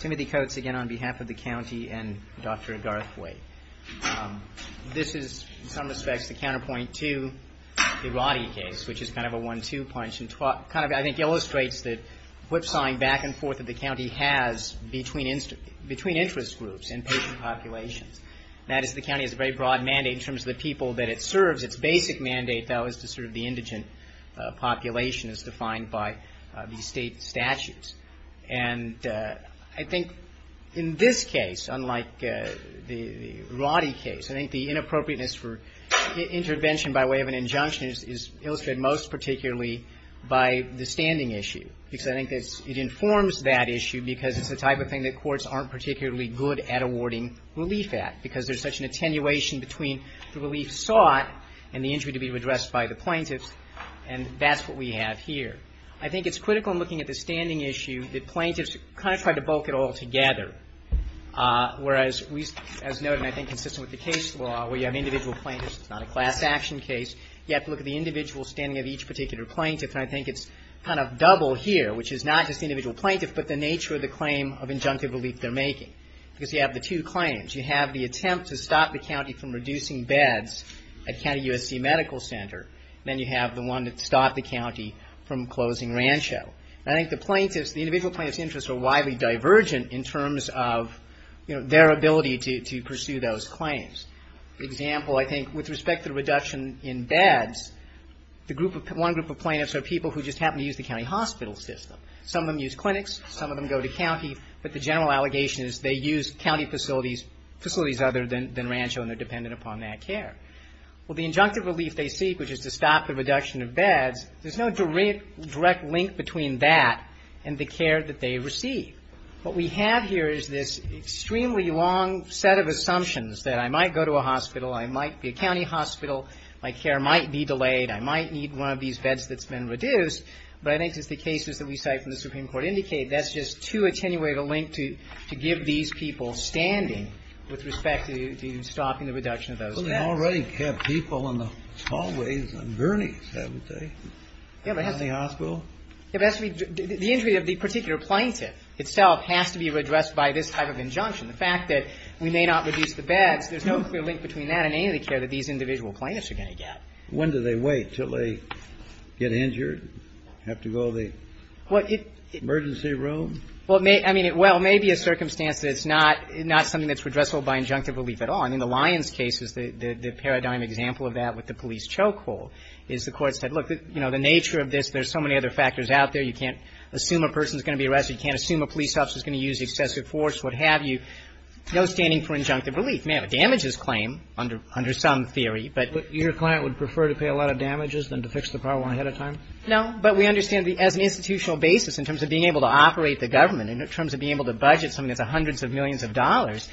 Timothy Coates again on behalf of the county and Dr. Garthway. This is in some respects the counterpoint to the Roddy case, which is kind of a one-two punch and kind of I think illustrates that whip-sawing back and forth that the county has between interest groups and patient populations. That is, the county has a very broad mandate in terms of the people that it serves. Its basic mandate, though, is to serve the indigent population as defined by the state statutes. And I think in this case, unlike the Roddy case, I think the inappropriateness for intervention by way of an injunction is illustrated most particularly by the standing issue because I think it informs that issue because it's the type of thing that courts aren't particularly good at awarding relief at because there's such an attenuation between the relief sought and the injury to be addressed by the plaintiffs. And that's what we have here. I think it's critical in looking at the standing issue that plaintiffs kind of try to bulk it all together. Whereas, as noted and I think consistent with the case law where you have individual plaintiffs, it's not a class action case, you have to look at the individual standing of each particular plaintiff. And I think it's kind of double here, which is not just the individual plaintiff but the nature of the claim of injunctive relief they're making because you have the two claims. You have the attempt to stop the county from reducing beds at County USC Medical Center. Then you have the one that stopped the county from closing Rancho. And I think the plaintiffs, the individual plaintiffs' interests are widely divergent in terms of their ability to pursue those claims. For example, I think with respect to the reduction in beds, one group of plaintiffs are people who just happen to use the county hospital system. Some of them use clinics. Some of them go to county. But the general allegation is they use county facilities other than Rancho and they're dependent upon that care. Well, the injunctive relief they seek, which is to stop the reduction of beds, there's no direct link between that and the care that they receive. What we have here is this extremely long set of assumptions that I might go to a hospital, I might be a county hospital, my care might be delayed, I might need one of these beds that's been reduced. But I think just the cases that we cite from the Supreme Court indicate that's just too attenuated a link to give these people standing with respect to stopping the reduction of those beds. Well, they already have people in the hallways on gurneys, haven't they, in the hospital? Yeah, but that's the injury of the particular plaintiff itself has to be redressed by this type of injunction. The fact that we may not reduce the beds, there's no clear link between that and any of the care that these individual plaintiffs are going to get. When do they wait? Until they get injured? Have to go to the emergency room? Well, it may be a circumstance that it's not something that's redressable by injunctive relief at all. I mean, the Lyons case is the paradigm example of that with the police chokehold is the court said, look, you know, the nature of this, there's so many other factors out there, you can't assume a person's going to be arrested, you can't assume a police officer's going to use excessive force, what have you. No standing for injunctive relief. Now, damages claim under some theory, but But your client would prefer to pay a lot of damages than to fix the problem ahead of time? No, but we understand as an institutional basis in terms of being able to operate the government, in terms of being able to budget something that's hundreds of millions of dollars,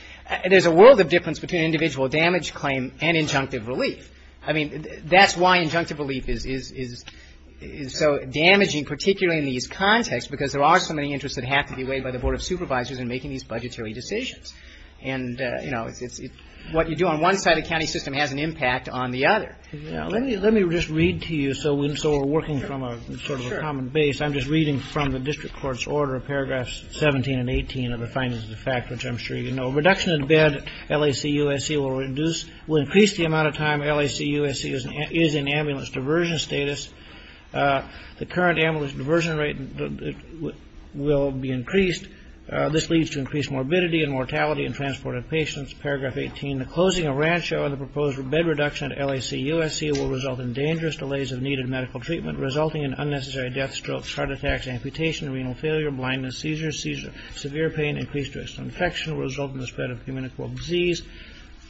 there's a world of difference between individual damage claim and injunctive relief. I mean, that's why injunctive relief is so damaging, particularly in these contexts, because there are so many interests that have to be weighed by the Board of Supervisors in making these budgetary decisions. And, you know, what you do on one side of the county system has an impact on the other. Let me just read to you, so we're working from a sort of a common base. I'm just reading from the district court's order, paragraphs 17 and 18 of the findings of the fact, which I'm sure you know. Reduction in bed LAC USC will increase the amount of time LAC USC is in ambulance diversion status. The current ambulance diversion rate will be increased. This leads to increased morbidity and mortality in transported patients. Paragraph 18, the closing of rancho and the proposed bed reduction at LAC USC will result in dangerous delays of needed medical treatment, resulting in unnecessary death, strokes, heart attacks, amputation, renal failure, blindness, seizures, severe pain, increased risk of infection will result in the spread of communicable disease,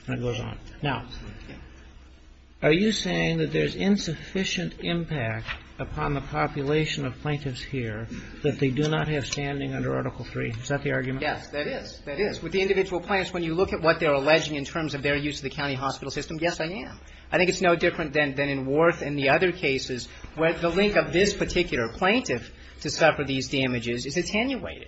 and it goes on. Now, are you saying that there's insufficient impact upon the population of plaintiffs here that they do not have standing under Article III? Is that the argument? Yes, that is. That is. With the individual plaintiffs, when you look at what they're alleging in terms of their use of the county hospital system, yes, I am. I think it's no different in other cases where the link of this particular plaintiff to suffer these damages is attenuated.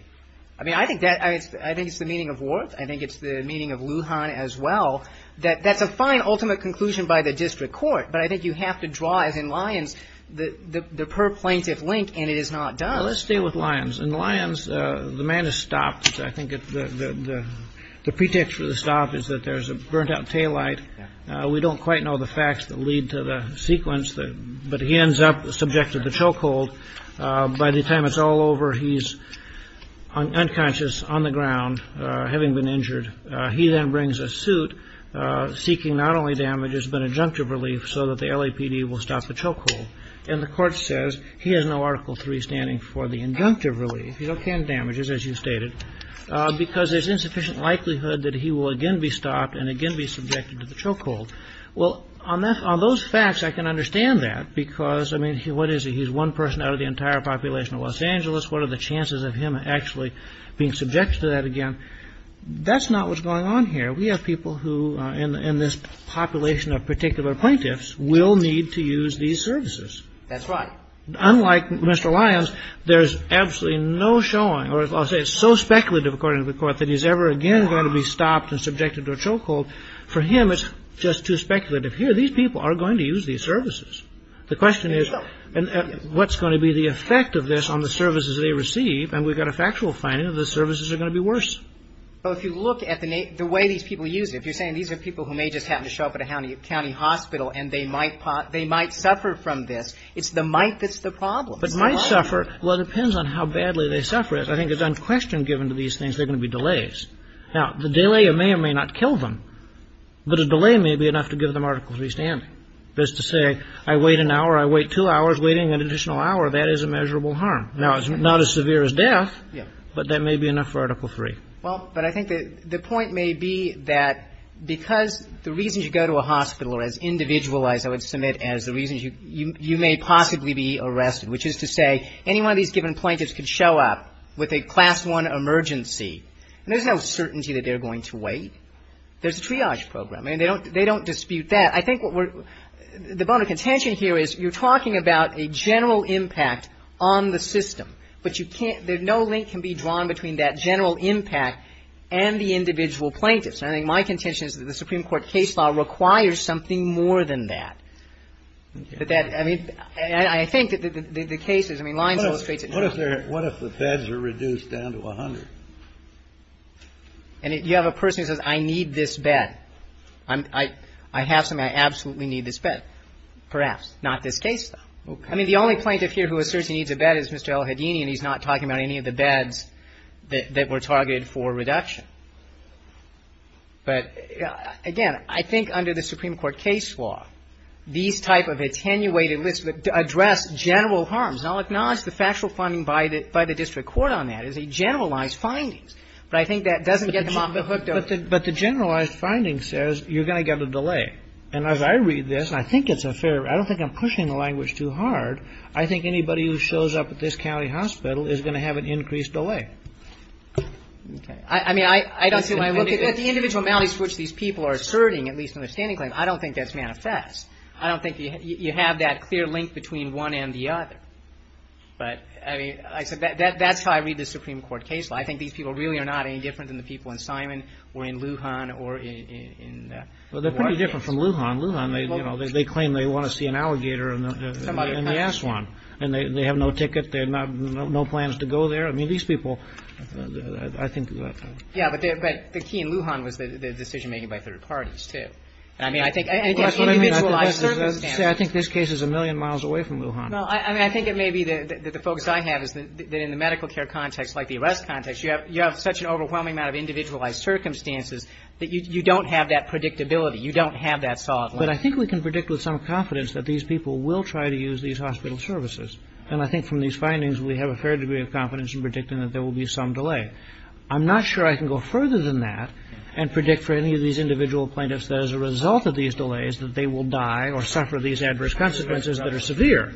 I mean, I think that's the meaning of Wharton. I think it's the meaning of Lujan as well. That's a fine ultimate conclusion by the district court, but I think you have to draw, as in Lyons, the per-plaintiff link, and it is not done. Let's stay with Lyons. In Lyons, the man is stopped. I think the pretext for the stop is that there's a burnt-out taillight. We don't quite know the facts that lead to the sequence, but he ends up subject to the chokehold. By the time it's all over, he's unconscious, on the ground, having been injured. He then brings a suit, seeking not only damages but injunctive relief so that the LAPD will stop the chokehold. And the court says he has no Article III standing for the injunctive relief. He's okay on damages, as you stated, because there's insufficient likelihood that he will again be stopped and again be subjected to the chokehold. Well, on those facts, I can understand that, because, I mean, what is he? He's one person out of the entire population of Los Angeles. What are the chances of him actually being subjected to that again? That's not what's going on here. We have people who, in this population of particular plaintiffs, will need to use these services. That's right. Unlike Mr. Lyons, there's absolutely no showing, or I'll say it's so speculative, according to the Court, that he's ever again going to be stopped and subjected to a chokehold. For him, it's just too speculative. Here, these people are going to use these services. The question is, what's going to be the effect of this on the services they receive? And we've got a factual finding that the services are going to be worse. Well, if you look at the way these people use it, if you're saying these are people who may just happen to show up at a county hospital and they might suffer from this, it's the might that's the problem. But might suffer, well, it depends on how badly they suffer. I think it's unquestioned given to these things, there are going to be delays. Now, the delay may or may not kill them, but a delay may be enough to give them Article III standing. That's to say, I wait an hour, I wait two hours, waiting an additional hour, that is a measurable harm. Now, it's not as severe as death, but that may be enough for Article III. Well, but I think the point may be that because the reasons you go to a hospital are as individualized, I would submit, as the reasons you may possibly be arrested, which is to say, any one of these given plaintiffs could show up with a Class I emergency, and there's no certainty that they're going to wait. There's a triage program. I mean, they don't dispute that. I think what we're, the bone of contention here is you're talking about a general impact on the system, but you can't, there's no link can be drawn between that general impact and the individual plaintiffs. And I think my contention is that the Supreme Court case law requires something more than that. But that, I mean, and I think that the cases, I mean, Lyons illustrates it. What if there, what if the beds are reduced down to a hundred? And if you have a person who says, I need this bed, I have something, I absolutely need this bed. Perhaps. Not this case, though. I mean, the only plaintiff here who asserts he needs a bed is Mr. El-Hadini, and he's not talking about any of the beds that were targeted for reduction. But again, I think under the Supreme Court case law, these type of attenuated lists address general harms. And I'll acknowledge the factual funding by the district court on that as a generalized finding. But I think that doesn't get them off the hook. But the generalized finding says you're going to get a delay. And as I read this, and I think it's a fair, I don't think I'm pushing the language too hard. I think anybody who shows up at this county hospital is going to have an increased delay. Okay. I mean, I don't see when I look at the individual counties which these people are asserting, at least in their standing claim, I don't think that's manifest. I don't think you have that clear link between one and the other. But, I mean, that's how I read the Supreme Court case law. I think these people really are not any different than the people in Simon or in Lujan or in the Ward case. Well, they're pretty different from Lujan. Lujan, they claim they want to see an alligator in the Aswan. And they have no ticket, they have no plans to go there. I mean, these people, I think... Yeah, but the key in Lujan was the decision-making by third parties, too. I mean, I think... Well, that's what I mean. I think this case is a million miles away from Lujan. No, I mean, I think it may be that the focus I have is that in the medical care context, like the arrest context, you have such an overwhelming amount of individualized circumstances that you don't have that predictability. You don't have that solid link. But I think we can predict with some confidence that these people will try to use these hospital services. And I think from these findings, we have a fair degree of confidence in predicting that there will be some delay. I'm not sure I can go further than that and predict for any of these individual plaintiffs that as a result of these delays, that they will die or suffer these adverse consequences that are severe.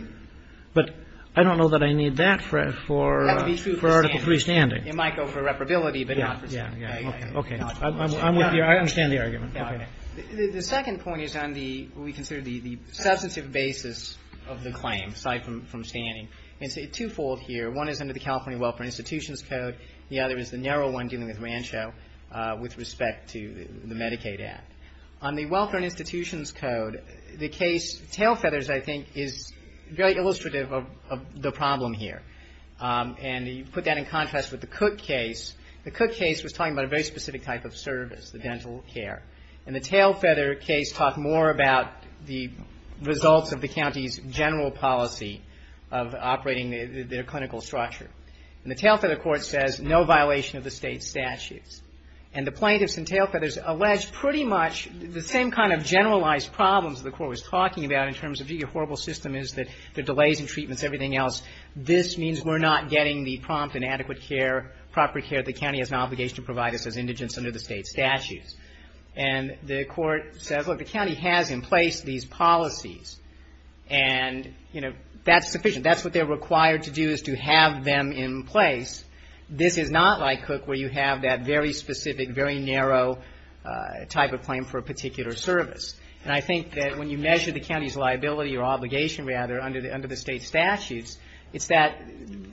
But I don't know that I need that for Article III standing. It might go for reparability, but not for standing. Okay. I'm with you. I understand the argument. The second point is on what we consider the substantive basis of the claim, aside from standing. It's twofold here. One is under the California Welfare Institutions Code. The other is the narrow one dealing with Rancho with respect to the Medicaid Act. On the Welfare Institutions Code, the case Tailfeathers, I think, is very illustrative of the problem here. And you put that in contrast with the Cook case. The Cook case was talking about a very specific type of service, the dental care. And the Tailfeather case talked more about the results of the county's general policy of operating their clinical structure. And the Tailfeather court says no violation of the state statutes. And the plaintiffs in Tailfeathers allege pretty much the same kind of generalized problems the court was talking about in terms of the horrible system is that the delays in treatments, everything else. This means we're not getting the prompt and adequate care, proper care. The county has an obligation to provide us as indigents under the state statutes. And the court says, look, the county has in place these policies. And, you know, that's sufficient. That's what they're required to do is to have them in place. This is not like Cook where you have that very specific, very narrow type of claim for a particular service. And I think that when you measure the county's liability or obligation rather under the state statutes, it's that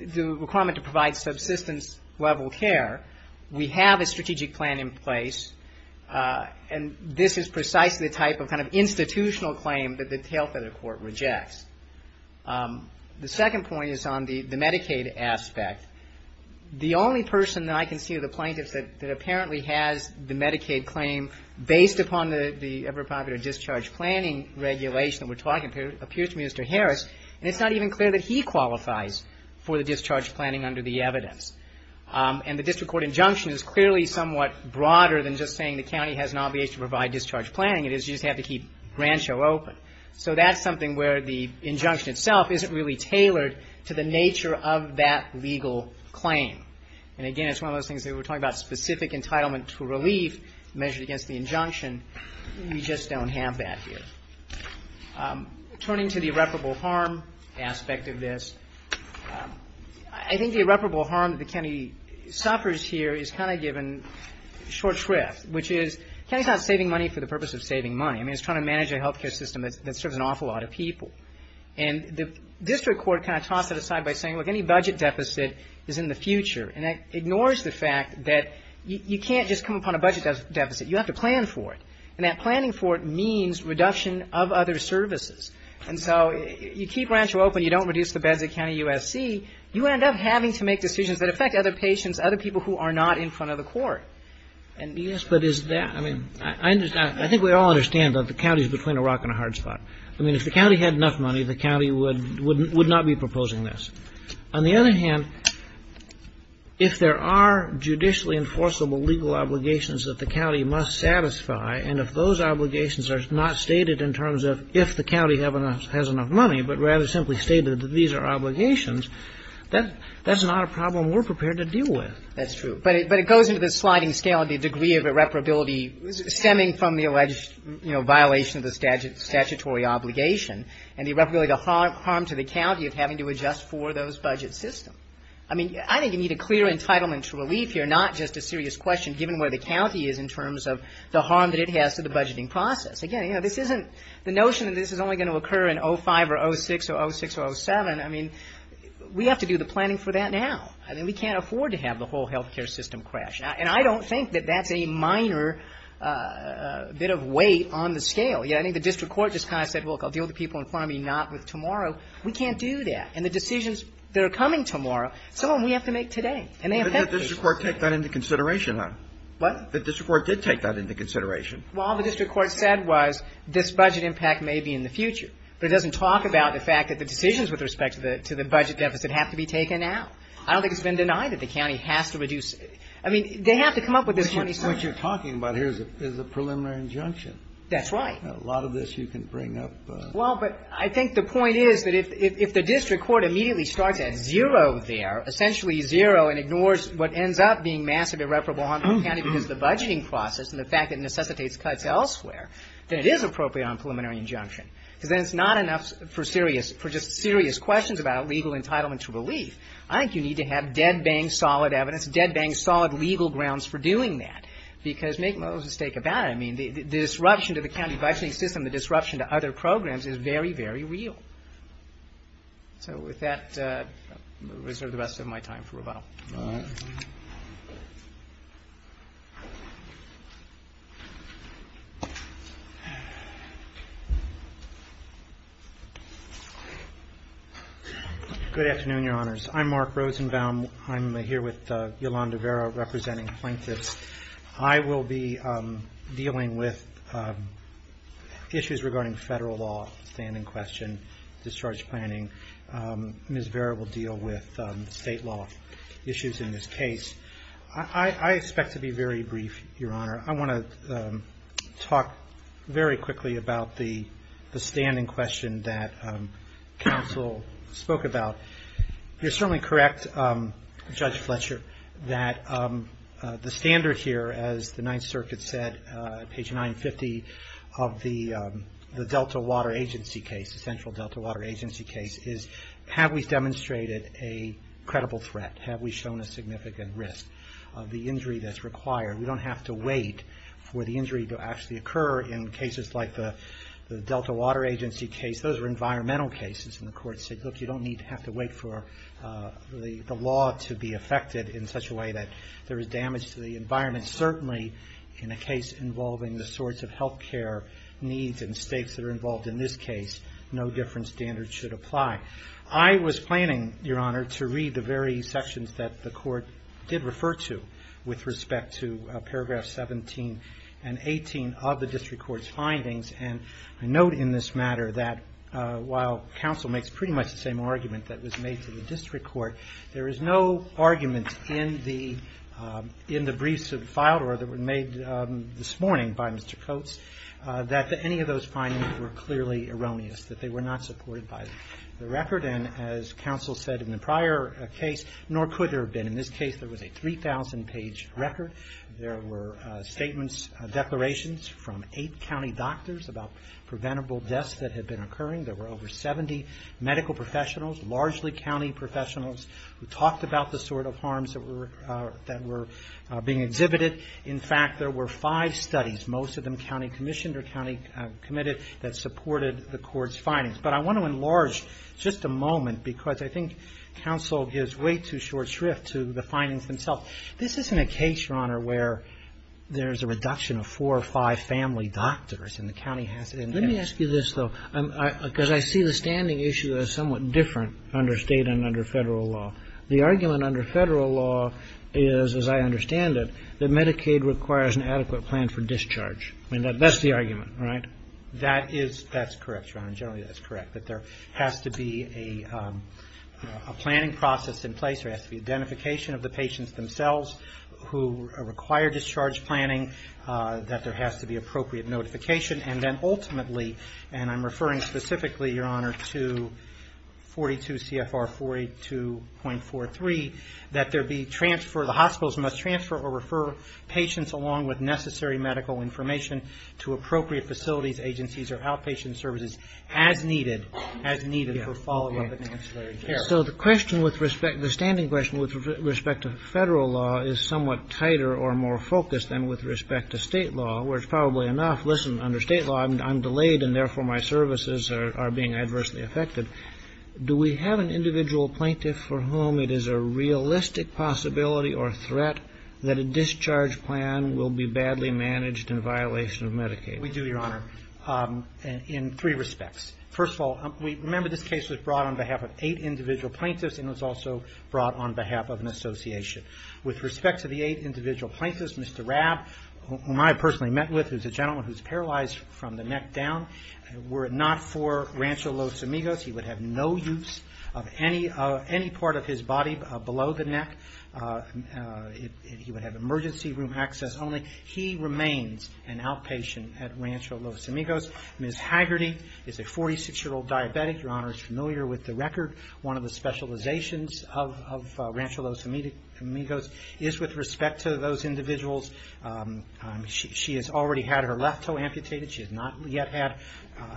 the requirement to provide subsistence level care. We have a strategic plan in place. And this is precisely the type of kind of institutional claim that the Tailfeather court rejects. The second point is on the Medicaid aspect. The only person that I can see of the plaintiffs that apparently has the Medicaid claim based upon the ever popular discharge planning regulation that we're talking about appears to be Mr. Harris. And it's not even clear that he qualifies for the discharge planning under the evidence. And the district court injunction is clearly somewhat broader than just saying the county has an obligation to provide discharge planning. It is you just have to keep Rancho open. So that's something where the injunction itself isn't really tailored to the nature of that legal claim. And again, it's one of those things that we're talking about specific entitlement to relief measured against the injunction. We just don't have that here. Turning to the irreparable harm aspect of this, I think the irreparable harm that the county suffers here is kind of given short shrift, which is the county's not saving money for the purpose of saving money. I mean, it's trying to manage a healthcare system that serves an awful lot of people. And the district court kind of tossed it aside by saying, look, any budget deficit is in the future. And that ignores the fact that you can't just come upon a budget deficit. You have to plan for it. And that planning for it means reduction of other services. And so you keep Rancho open. You don't reduce the beds at County USC. You end up having to make decisions that affect other patients, other people who are not in front of the court. I think we all understand that the county is between a rock and a hard spot. I mean, if the county had enough money, the county would not be proposing this. On the other hand, if there are judicially enforceable legal obligations that the county must satisfy, and if those obligations are not stated in terms of if the county has enough money, but rather simply stated that these are obligations, that's not a problem we're prepared to deal with. That's true. But it goes into the sliding scale of the degree of irreparability stemming from the alleged violation of the statutory obligation and the irreparability of the harm to the county of having to adjust for those budget systems. I mean, I think you need a clear entitlement to relief here, not just a serious question given where the county is in terms of the harm that it has to the budgeting process. Again, this isn't the notion that this is only going to occur in 05 or 06 or 06 or 07. I mean, we have to do the planning for that now. I mean, we can't afford to have the whole health care system crash. And I don't think that that's a minor bit of weight on the scale. I think the district court just kind of said, look, I'll deal with the people in front of me, not with tomorrow. We can't do that. And the decisions that are coming tomorrow, some of them we have to make today. And they affect people. The district court did take that into consideration. Well, all the district court said was this budget impact may be in the future. But it doesn't talk about the fact that the decisions with respect to the budget deficit have to be taken out. I don't think it's been denied that the county has to reduce it. I mean, they have to come up with this money somehow. What you're talking about here is a preliminary injunction. That's right. A lot of this you can bring up. Well, but I think the point is that if the district court immediately starts at zero there, essentially zero, and ignores what ends up being massive irreparable harm to the county because of the budgeting process and the fact that it necessitates cuts elsewhere, then it is appropriate on a preliminary injunction. Because then it's not enough for just serious questions about legal entitlement to relief. I think you need to have dead-bang solid evidence, dead-bang solid legal grounds for doing that, because make no mistake about it, the disruption to the county budgeting system, the disruption to other programs is very, very real. So with that, I'll reserve the rest of my time for rebuttal. Good afternoon, Your Honors. I'm Mark Rosenbaum. I'm here with Yolanda Vera, representing plaintiffs. I will be dealing with issues regarding federal law, standing question, discharge planning. Ms. Vera will deal with state law issues in this case. I expect to be very brief, Your Honor. I want to talk very quickly about the standing question Your Honor, I want to talk very quickly about the standing question It's certainly correct, Judge Fletcher, that the standard here, as the Ninth Circuit said, page 950 of the Delta Water Agency case, the Central Delta Water Agency case, is have we demonstrated a credible threat, have we shown a significant risk of the injury that's required. We don't have to wait for the injury to actually occur in cases like the Delta Water Agency case. Those are environmental cases, and the Court said, look, you don't need to have to wait for the law to be affected in such a way that there is damage to the environment. Certainly, in a case involving the sorts of health care needs and stakes that are involved in this case, no different standards should apply. I was planning, Your Honor, to read the very sections that the Court did refer to with respect to paragraphs 17 and 18 of the District Court's findings. I note in this matter that, while counsel makes pretty much the same argument that was made to the District Court, there is no argument in the briefs that were filed or that were made this morning by Mr. Coates that any of those findings were clearly erroneous, that they were not supported by the record. As counsel said in the prior case, nor could there have been. In this case, there was a 3,000-page record. There were statements, declarations, from eight county doctors about preventable deaths that had been occurring. There were over 70 medical professionals, largely county professionals, who talked about the sort of harms that were being exhibited. In fact, there were five studies, most of them county commissioned or county committed, that supported the Court's findings. But I want to enlarge just a moment because I think counsel gives way too short shrift to the findings themselves. This isn't a case, Your Honor, where there's a reduction of four or five family doctors and the county has to... Let me ask you this, though, because I see the standing issue as somewhat different under state and under federal law. The argument under federal law is, as I understand it, that Medicaid requires an adequate plan for discharge. That's the argument, right? That's correct, Your Honor, generally that's correct. That there has to be a planning process in place, there has to be identification of the patients themselves who require discharge planning, that there has to be appropriate notification, and then ultimately, and I'm referring specifically, Your Honor, to 42 CFR 42.43, that there be transfer, the hospitals must transfer or refer patients along with necessary medical information to appropriate facilities, agencies, or outpatient services as needed for follow-up and ancillary care. So the standing question with respect to federal law is somewhat tighter or more focused than with respect to state law, where it's probably enough, listen, under state law, I'm delayed and therefore my services are being adversely affected. Do we have an individual plaintiff for whom it is a realistic possibility or threat that a discharge plan will be badly managed in violation of Medicaid? We do, Your Honor, in three respects. First of all, remember this case was brought on behalf of eight individual plaintiffs and was also brought on behalf of an association. With respect to the eight individual plaintiffs, Mr. Rabb, whom I personally met with, who's a gentleman who's paralyzed from the neck down, were it not for Rancho Los Amigos, he would have no use of any part of his body below the neck. He would have emergency room access only. He remains an outpatient at Rancho Los Amigos. Ms. Haggerty is a 46-year-old diabetic. Your Honor is familiar with the record. One of the specializations of Rancho Los Amigos is with respect to those individuals. She has already had her left toe amputated. She has not yet had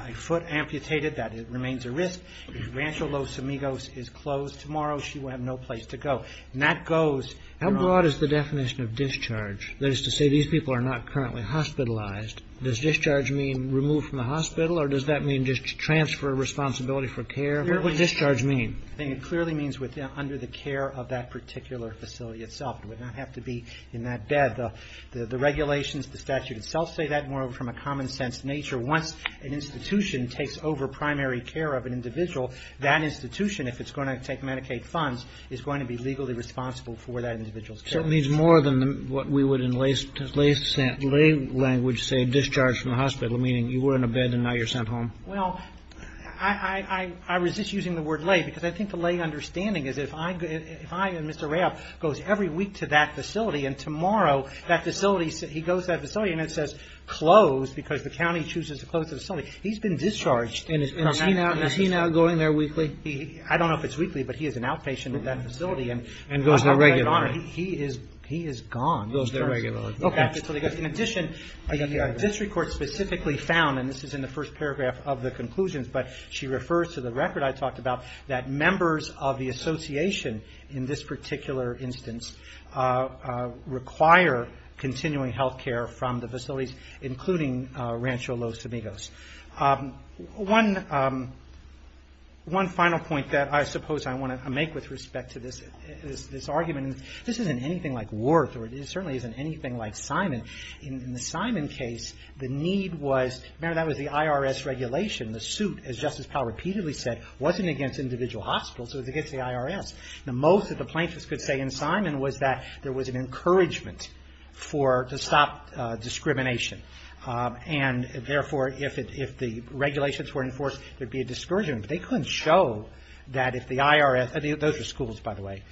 a foot amputated. That remains a risk. Rancho Los Amigos is closed tomorrow. She will have no place to go. How broad is the definition of discharge? That is to say, these people are not currently hospitalized. Does discharge mean removed from the hospital or does that mean just transfer of responsibility for care? What does discharge mean? It clearly means under the care of that particular facility itself. It would not have to be in that bed. The regulations, the statute itself say that. Once an institution takes over primary care of an individual, that institution, if it's going to take Medicaid funds, is going to be legally responsible for that individual's care. So it means more than what we would in lay language say, discharge from the hospital, meaning you were in a bed and now you're sent home? Well, I resist using the word lay because I think the lay understanding is if I and Mr. Raab goes every week to that facility and tomorrow that facility, he goes to that facility and it says closed because the county chooses to close the facility, he's been discharged from that facility. Is he now going there weekly? I don't know if it's weekly, but he is an outpatient at that facility. And goes there regularly? He is gone. In addition, the district court specifically found, and this is in the first paragraph of the conclusions, but she refers to the record I talked about that members of the association in this particular instance require continuing health care from the facilities, including Rancho Los Amigos. One final point that I suppose I want to make with respect to this argument, this isn't anything like Worth or it certainly isn't anything like Simon. In the Simon case, the need was, remember that was the IRS regulation. The suit, as Justice Powell repeatedly said, wasn't against individual hospitals. It was against the IRS. Most of the plaintiffs could say in Simon was that there was an encouragement to stop discrimination. Therefore, if the regulations were enforced, there would be a discouragement. They couldn't show that if the IRS, those were schools by the way,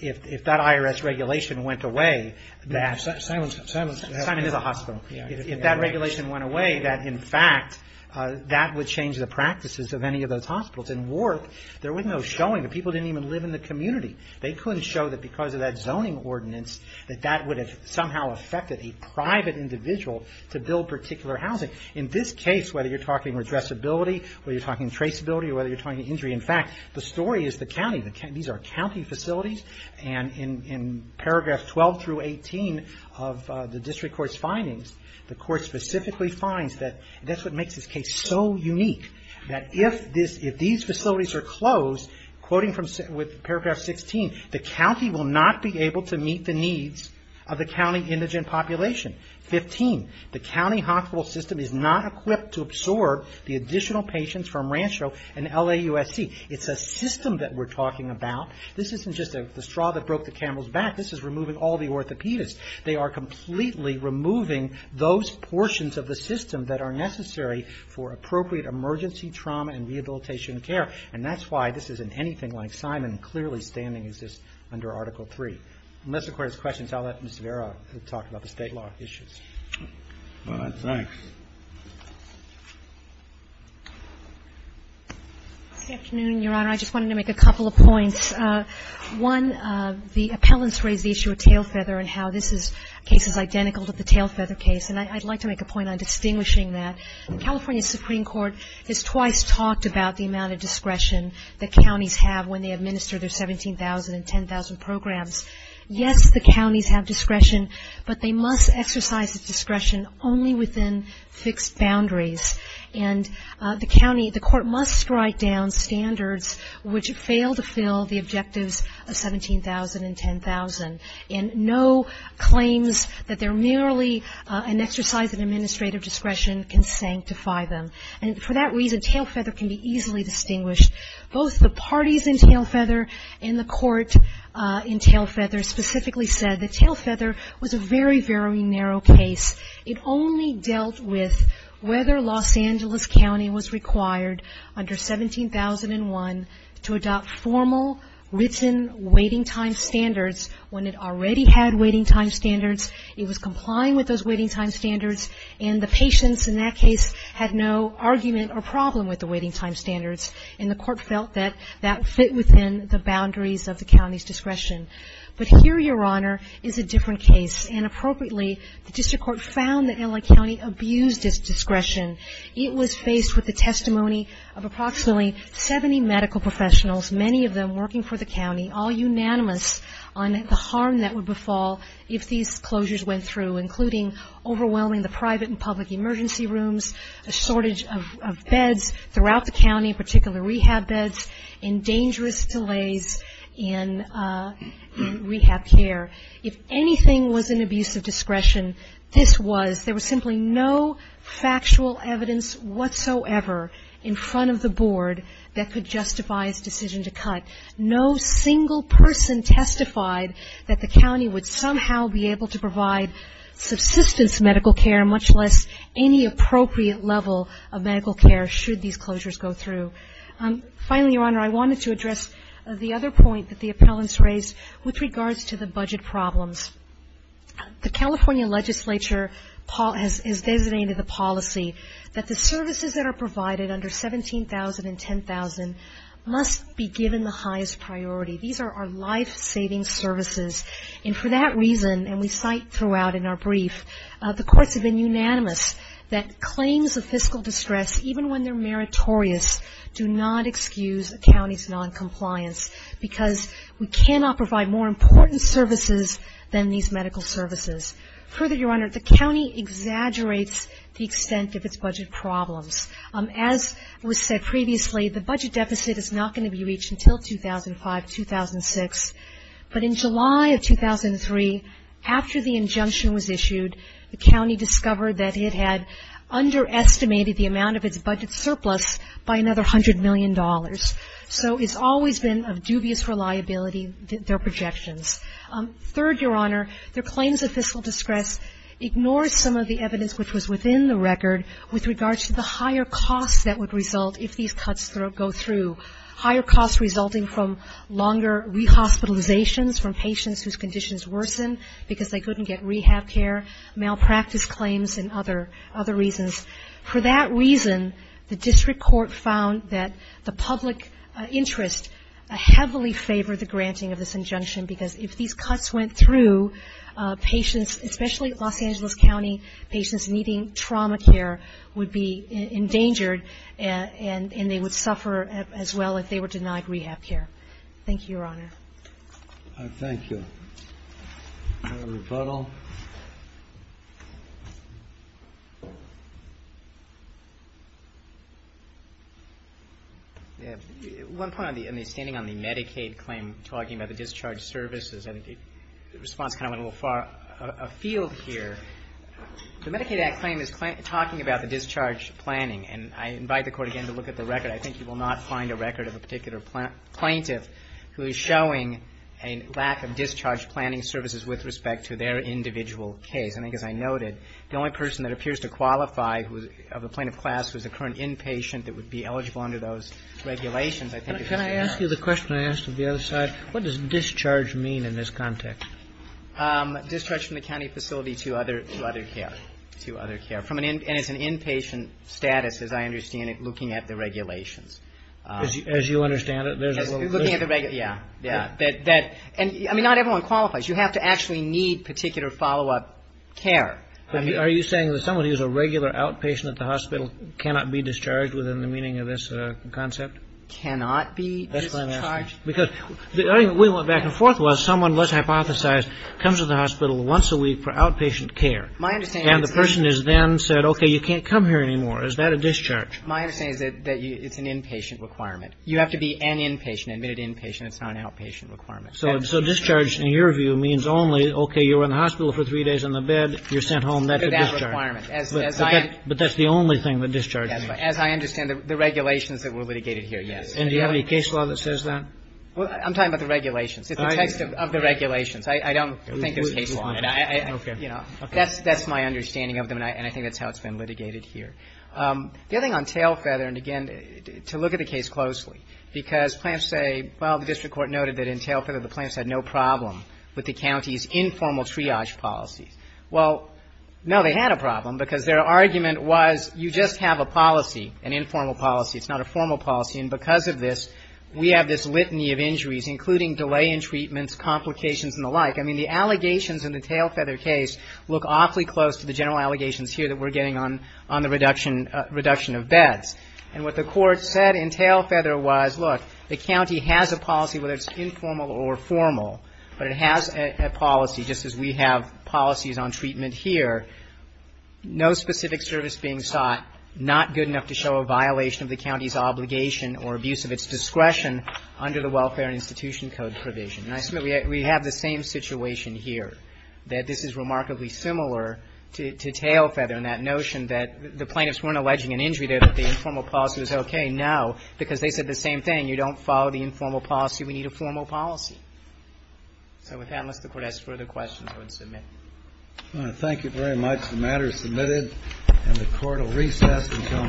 if that IRS regulation went away, Simon is a hospital. If that regulation went away, that would change the practices of any of those hospitals. In Worth, there was no showing. People didn't even live in the community. They couldn't show that because of that zoning ordinance that that would have somehow affected a private individual to build particular housing. In this case, whether you're talking redressability, traceability, injury, the story is the county. These are county facilities. In paragraphs 12-18 of the district court's findings, the court specifically finds that that's what makes this case so unique. If these facilities are closed, the county will not be able to meet the needs of the county indigent population. 15. The county hospital system is not equipped to absorb the additional patients from Rancho and LAUSC. It's a system that we're talking about. This isn't just the straw that broke the camel's back. This is removing all the orthopedists. They are completely removing those portions of the system that are necessary for appropriate emergency trauma and rehabilitation care. That's why this isn't anything like Simon. Clearly, standing exists under Article III. Unless the Court has questions, I'll let Ms. Rivera talk about the state law issues. Thanks. Good afternoon, Your Honor. I just wanted to make a couple of points. One, the appellants raised the issue of tailfeather and how this case is identical to the tailfeather case, and I'd like to make a point on distinguishing that. The California Supreme Court has twice talked about the amount of discretion that counties have when they administer their 17,000 and 10,000 programs. Yes, the counties have discretion, but they must exercise that discretion only within fixed boundaries. And the court must strike down standards which fail to fill the objectives of 17,000 and 10,000. And no claims that they're merely an exercise of administrative discretion can sanctify them. And for that reason, tailfeather can be easily distinguished. Both the parties in tailfeather and the court in tailfeather specifically said that tailfeather was a very, very narrow case. It only dealt with whether Los Angeles County was required under 17,001 to adopt formal written waiting time standards when it already had waiting time standards. It was complying with those waiting time standards, and the patients in that case had no argument or problem with the waiting time standards, and the court felt that that fit within the boundaries of the county's discretion. But here, Your Honor, is a different case. And appropriately, the district court found that LA County abused its discretion. It was faced with the testimony of approximately 70 medical professionals, many of them working for the county, all unanimous on the harm that would befall if these closures went through, including overwhelming the private and public emergency rooms, a shortage of beds throughout the county, in particular rehab beds, and dangerous delays in rehab care. If anything was an abuse of discretion, this was. There was simply no factual evidence whatsoever in front of the board that could justify its decision to cut. No single person testified that the county would somehow be able to provide subsistence medical care, much less any appropriate level of medical care should these closures go through. Finally, Your Honor, I wanted to address the other point that the appellants raised with regards to the budget problems. The California legislature has designated the policy that the services that are provided under $17,000 and $10,000 must be given the highest priority. These are our life-saving services. And for that reason, and we cite throughout in our brief, the courts have been unanimous that claims of fiscal distress, even when they're meritorious, do not excuse a county's noncompliance because we cannot provide more important services than these medical services. Further, Your Honor, the county exaggerates the extent of its budget problems. As was said previously, the budget deficit is not going to be reached until 2005, 2006. But in July of 2003, after the injunction was issued, the county discovered that it had underestimated the amount of its budget surplus by another $100 million. So it's always been of dubious reliability, their projections. Third, Your Honor, their claims of fiscal distress ignores some of the evidence which was within the record with regards to the higher costs that would result if these cuts go through, higher costs resulting from longer rehospitalizations from patients whose conditions worsen because they couldn't get rehab care, malpractice claims, and other reasons. For that reason, the district court found that the public interest heavily favored the granting of this injunction because if these cuts went through, patients, especially Los Angeles County patients needing trauma care would be endangered and they would suffer as well if they were denied rehab care. Thank you, Your Honor. I thank you. One point on the standing on the Medicaid claim talking about the discharge services, and the response kind of went a little far afield here. The Medicaid Act claim is talking about the discharge planning, and I invite the Court again to look at the record. I think you will not find a record of a particular plaintiff who is showing a lack of discharge planning services with respect to their individual case. I think, as I noted, the only person that appears to qualify of the plaintiff class was the current inpatient that would be eligible under those regulations. Can I ask you the question I asked of the other side? What does discharge mean in this context? Discharge from the county facility to other care. And it's an inpatient status, as I understand it, looking at the regulations. As you understand it, there's a little question. Yeah. I mean, not everyone qualifies. You have to actually need particular follow-up care. Are you saying that someone who's a regular outpatient at the hospital cannot be discharged within the meaning of this concept? Cannot be discharged? We went back and forth. Someone, let's hypothesize, comes to the hospital once a week for outpatient care. And the person is then said, okay, you can't come here anymore. Is that a discharge? My understanding is that it's an inpatient requirement. You have to be an inpatient, an admitted inpatient. It's not an outpatient requirement. So discharge, in your view, means only, okay, you were in the hospital for three days on the bed. You're sent home. But that's the only thing that discharge means. As I understand it, the regulations that were litigated here, yes. And do you have any case law that says that? I'm talking about the regulations. It's the text of the regulations. I don't think there's case law on it. Okay. That's my understanding of them, and I think that's how it's been litigated here. The other thing on Tailfeather, and again, to look at the case closely, because plaintiffs say, well, the district court noted that in Tailfeather, the plaintiffs had no problem with the county's informal triage policies. Well, no, they had a problem because their argument was you just have a policy, an informal policy. It's not a formal policy. And because of this, we have this litany of injuries, including delay in treatments, complications, and the like. I mean, the allegations in the Tailfeather case look awfully close to the general allegations here that we're getting on the reduction of beds. And what the court said in Tailfeather was, look, the county has a policy, whether it's informal or formal, but it has a policy, just as we have policies on treatment here. No specific service being sought, not good enough to show a violation of the county's obligation or abuse of its discretion under the Welfare and Institution Code provision. And I submit we have the same situation here, that this is remarkably similar to Tailfeather in that notion that the plaintiffs weren't alleging an injury there, that the informal policy was okay. No, because they said the same thing. You don't follow the informal policy. We need a formal policy. So with that, unless the Court has further questions, I would submit. Thank you very much. The matter is submitted, and the Court will recess until 9 a.m. tomorrow morning.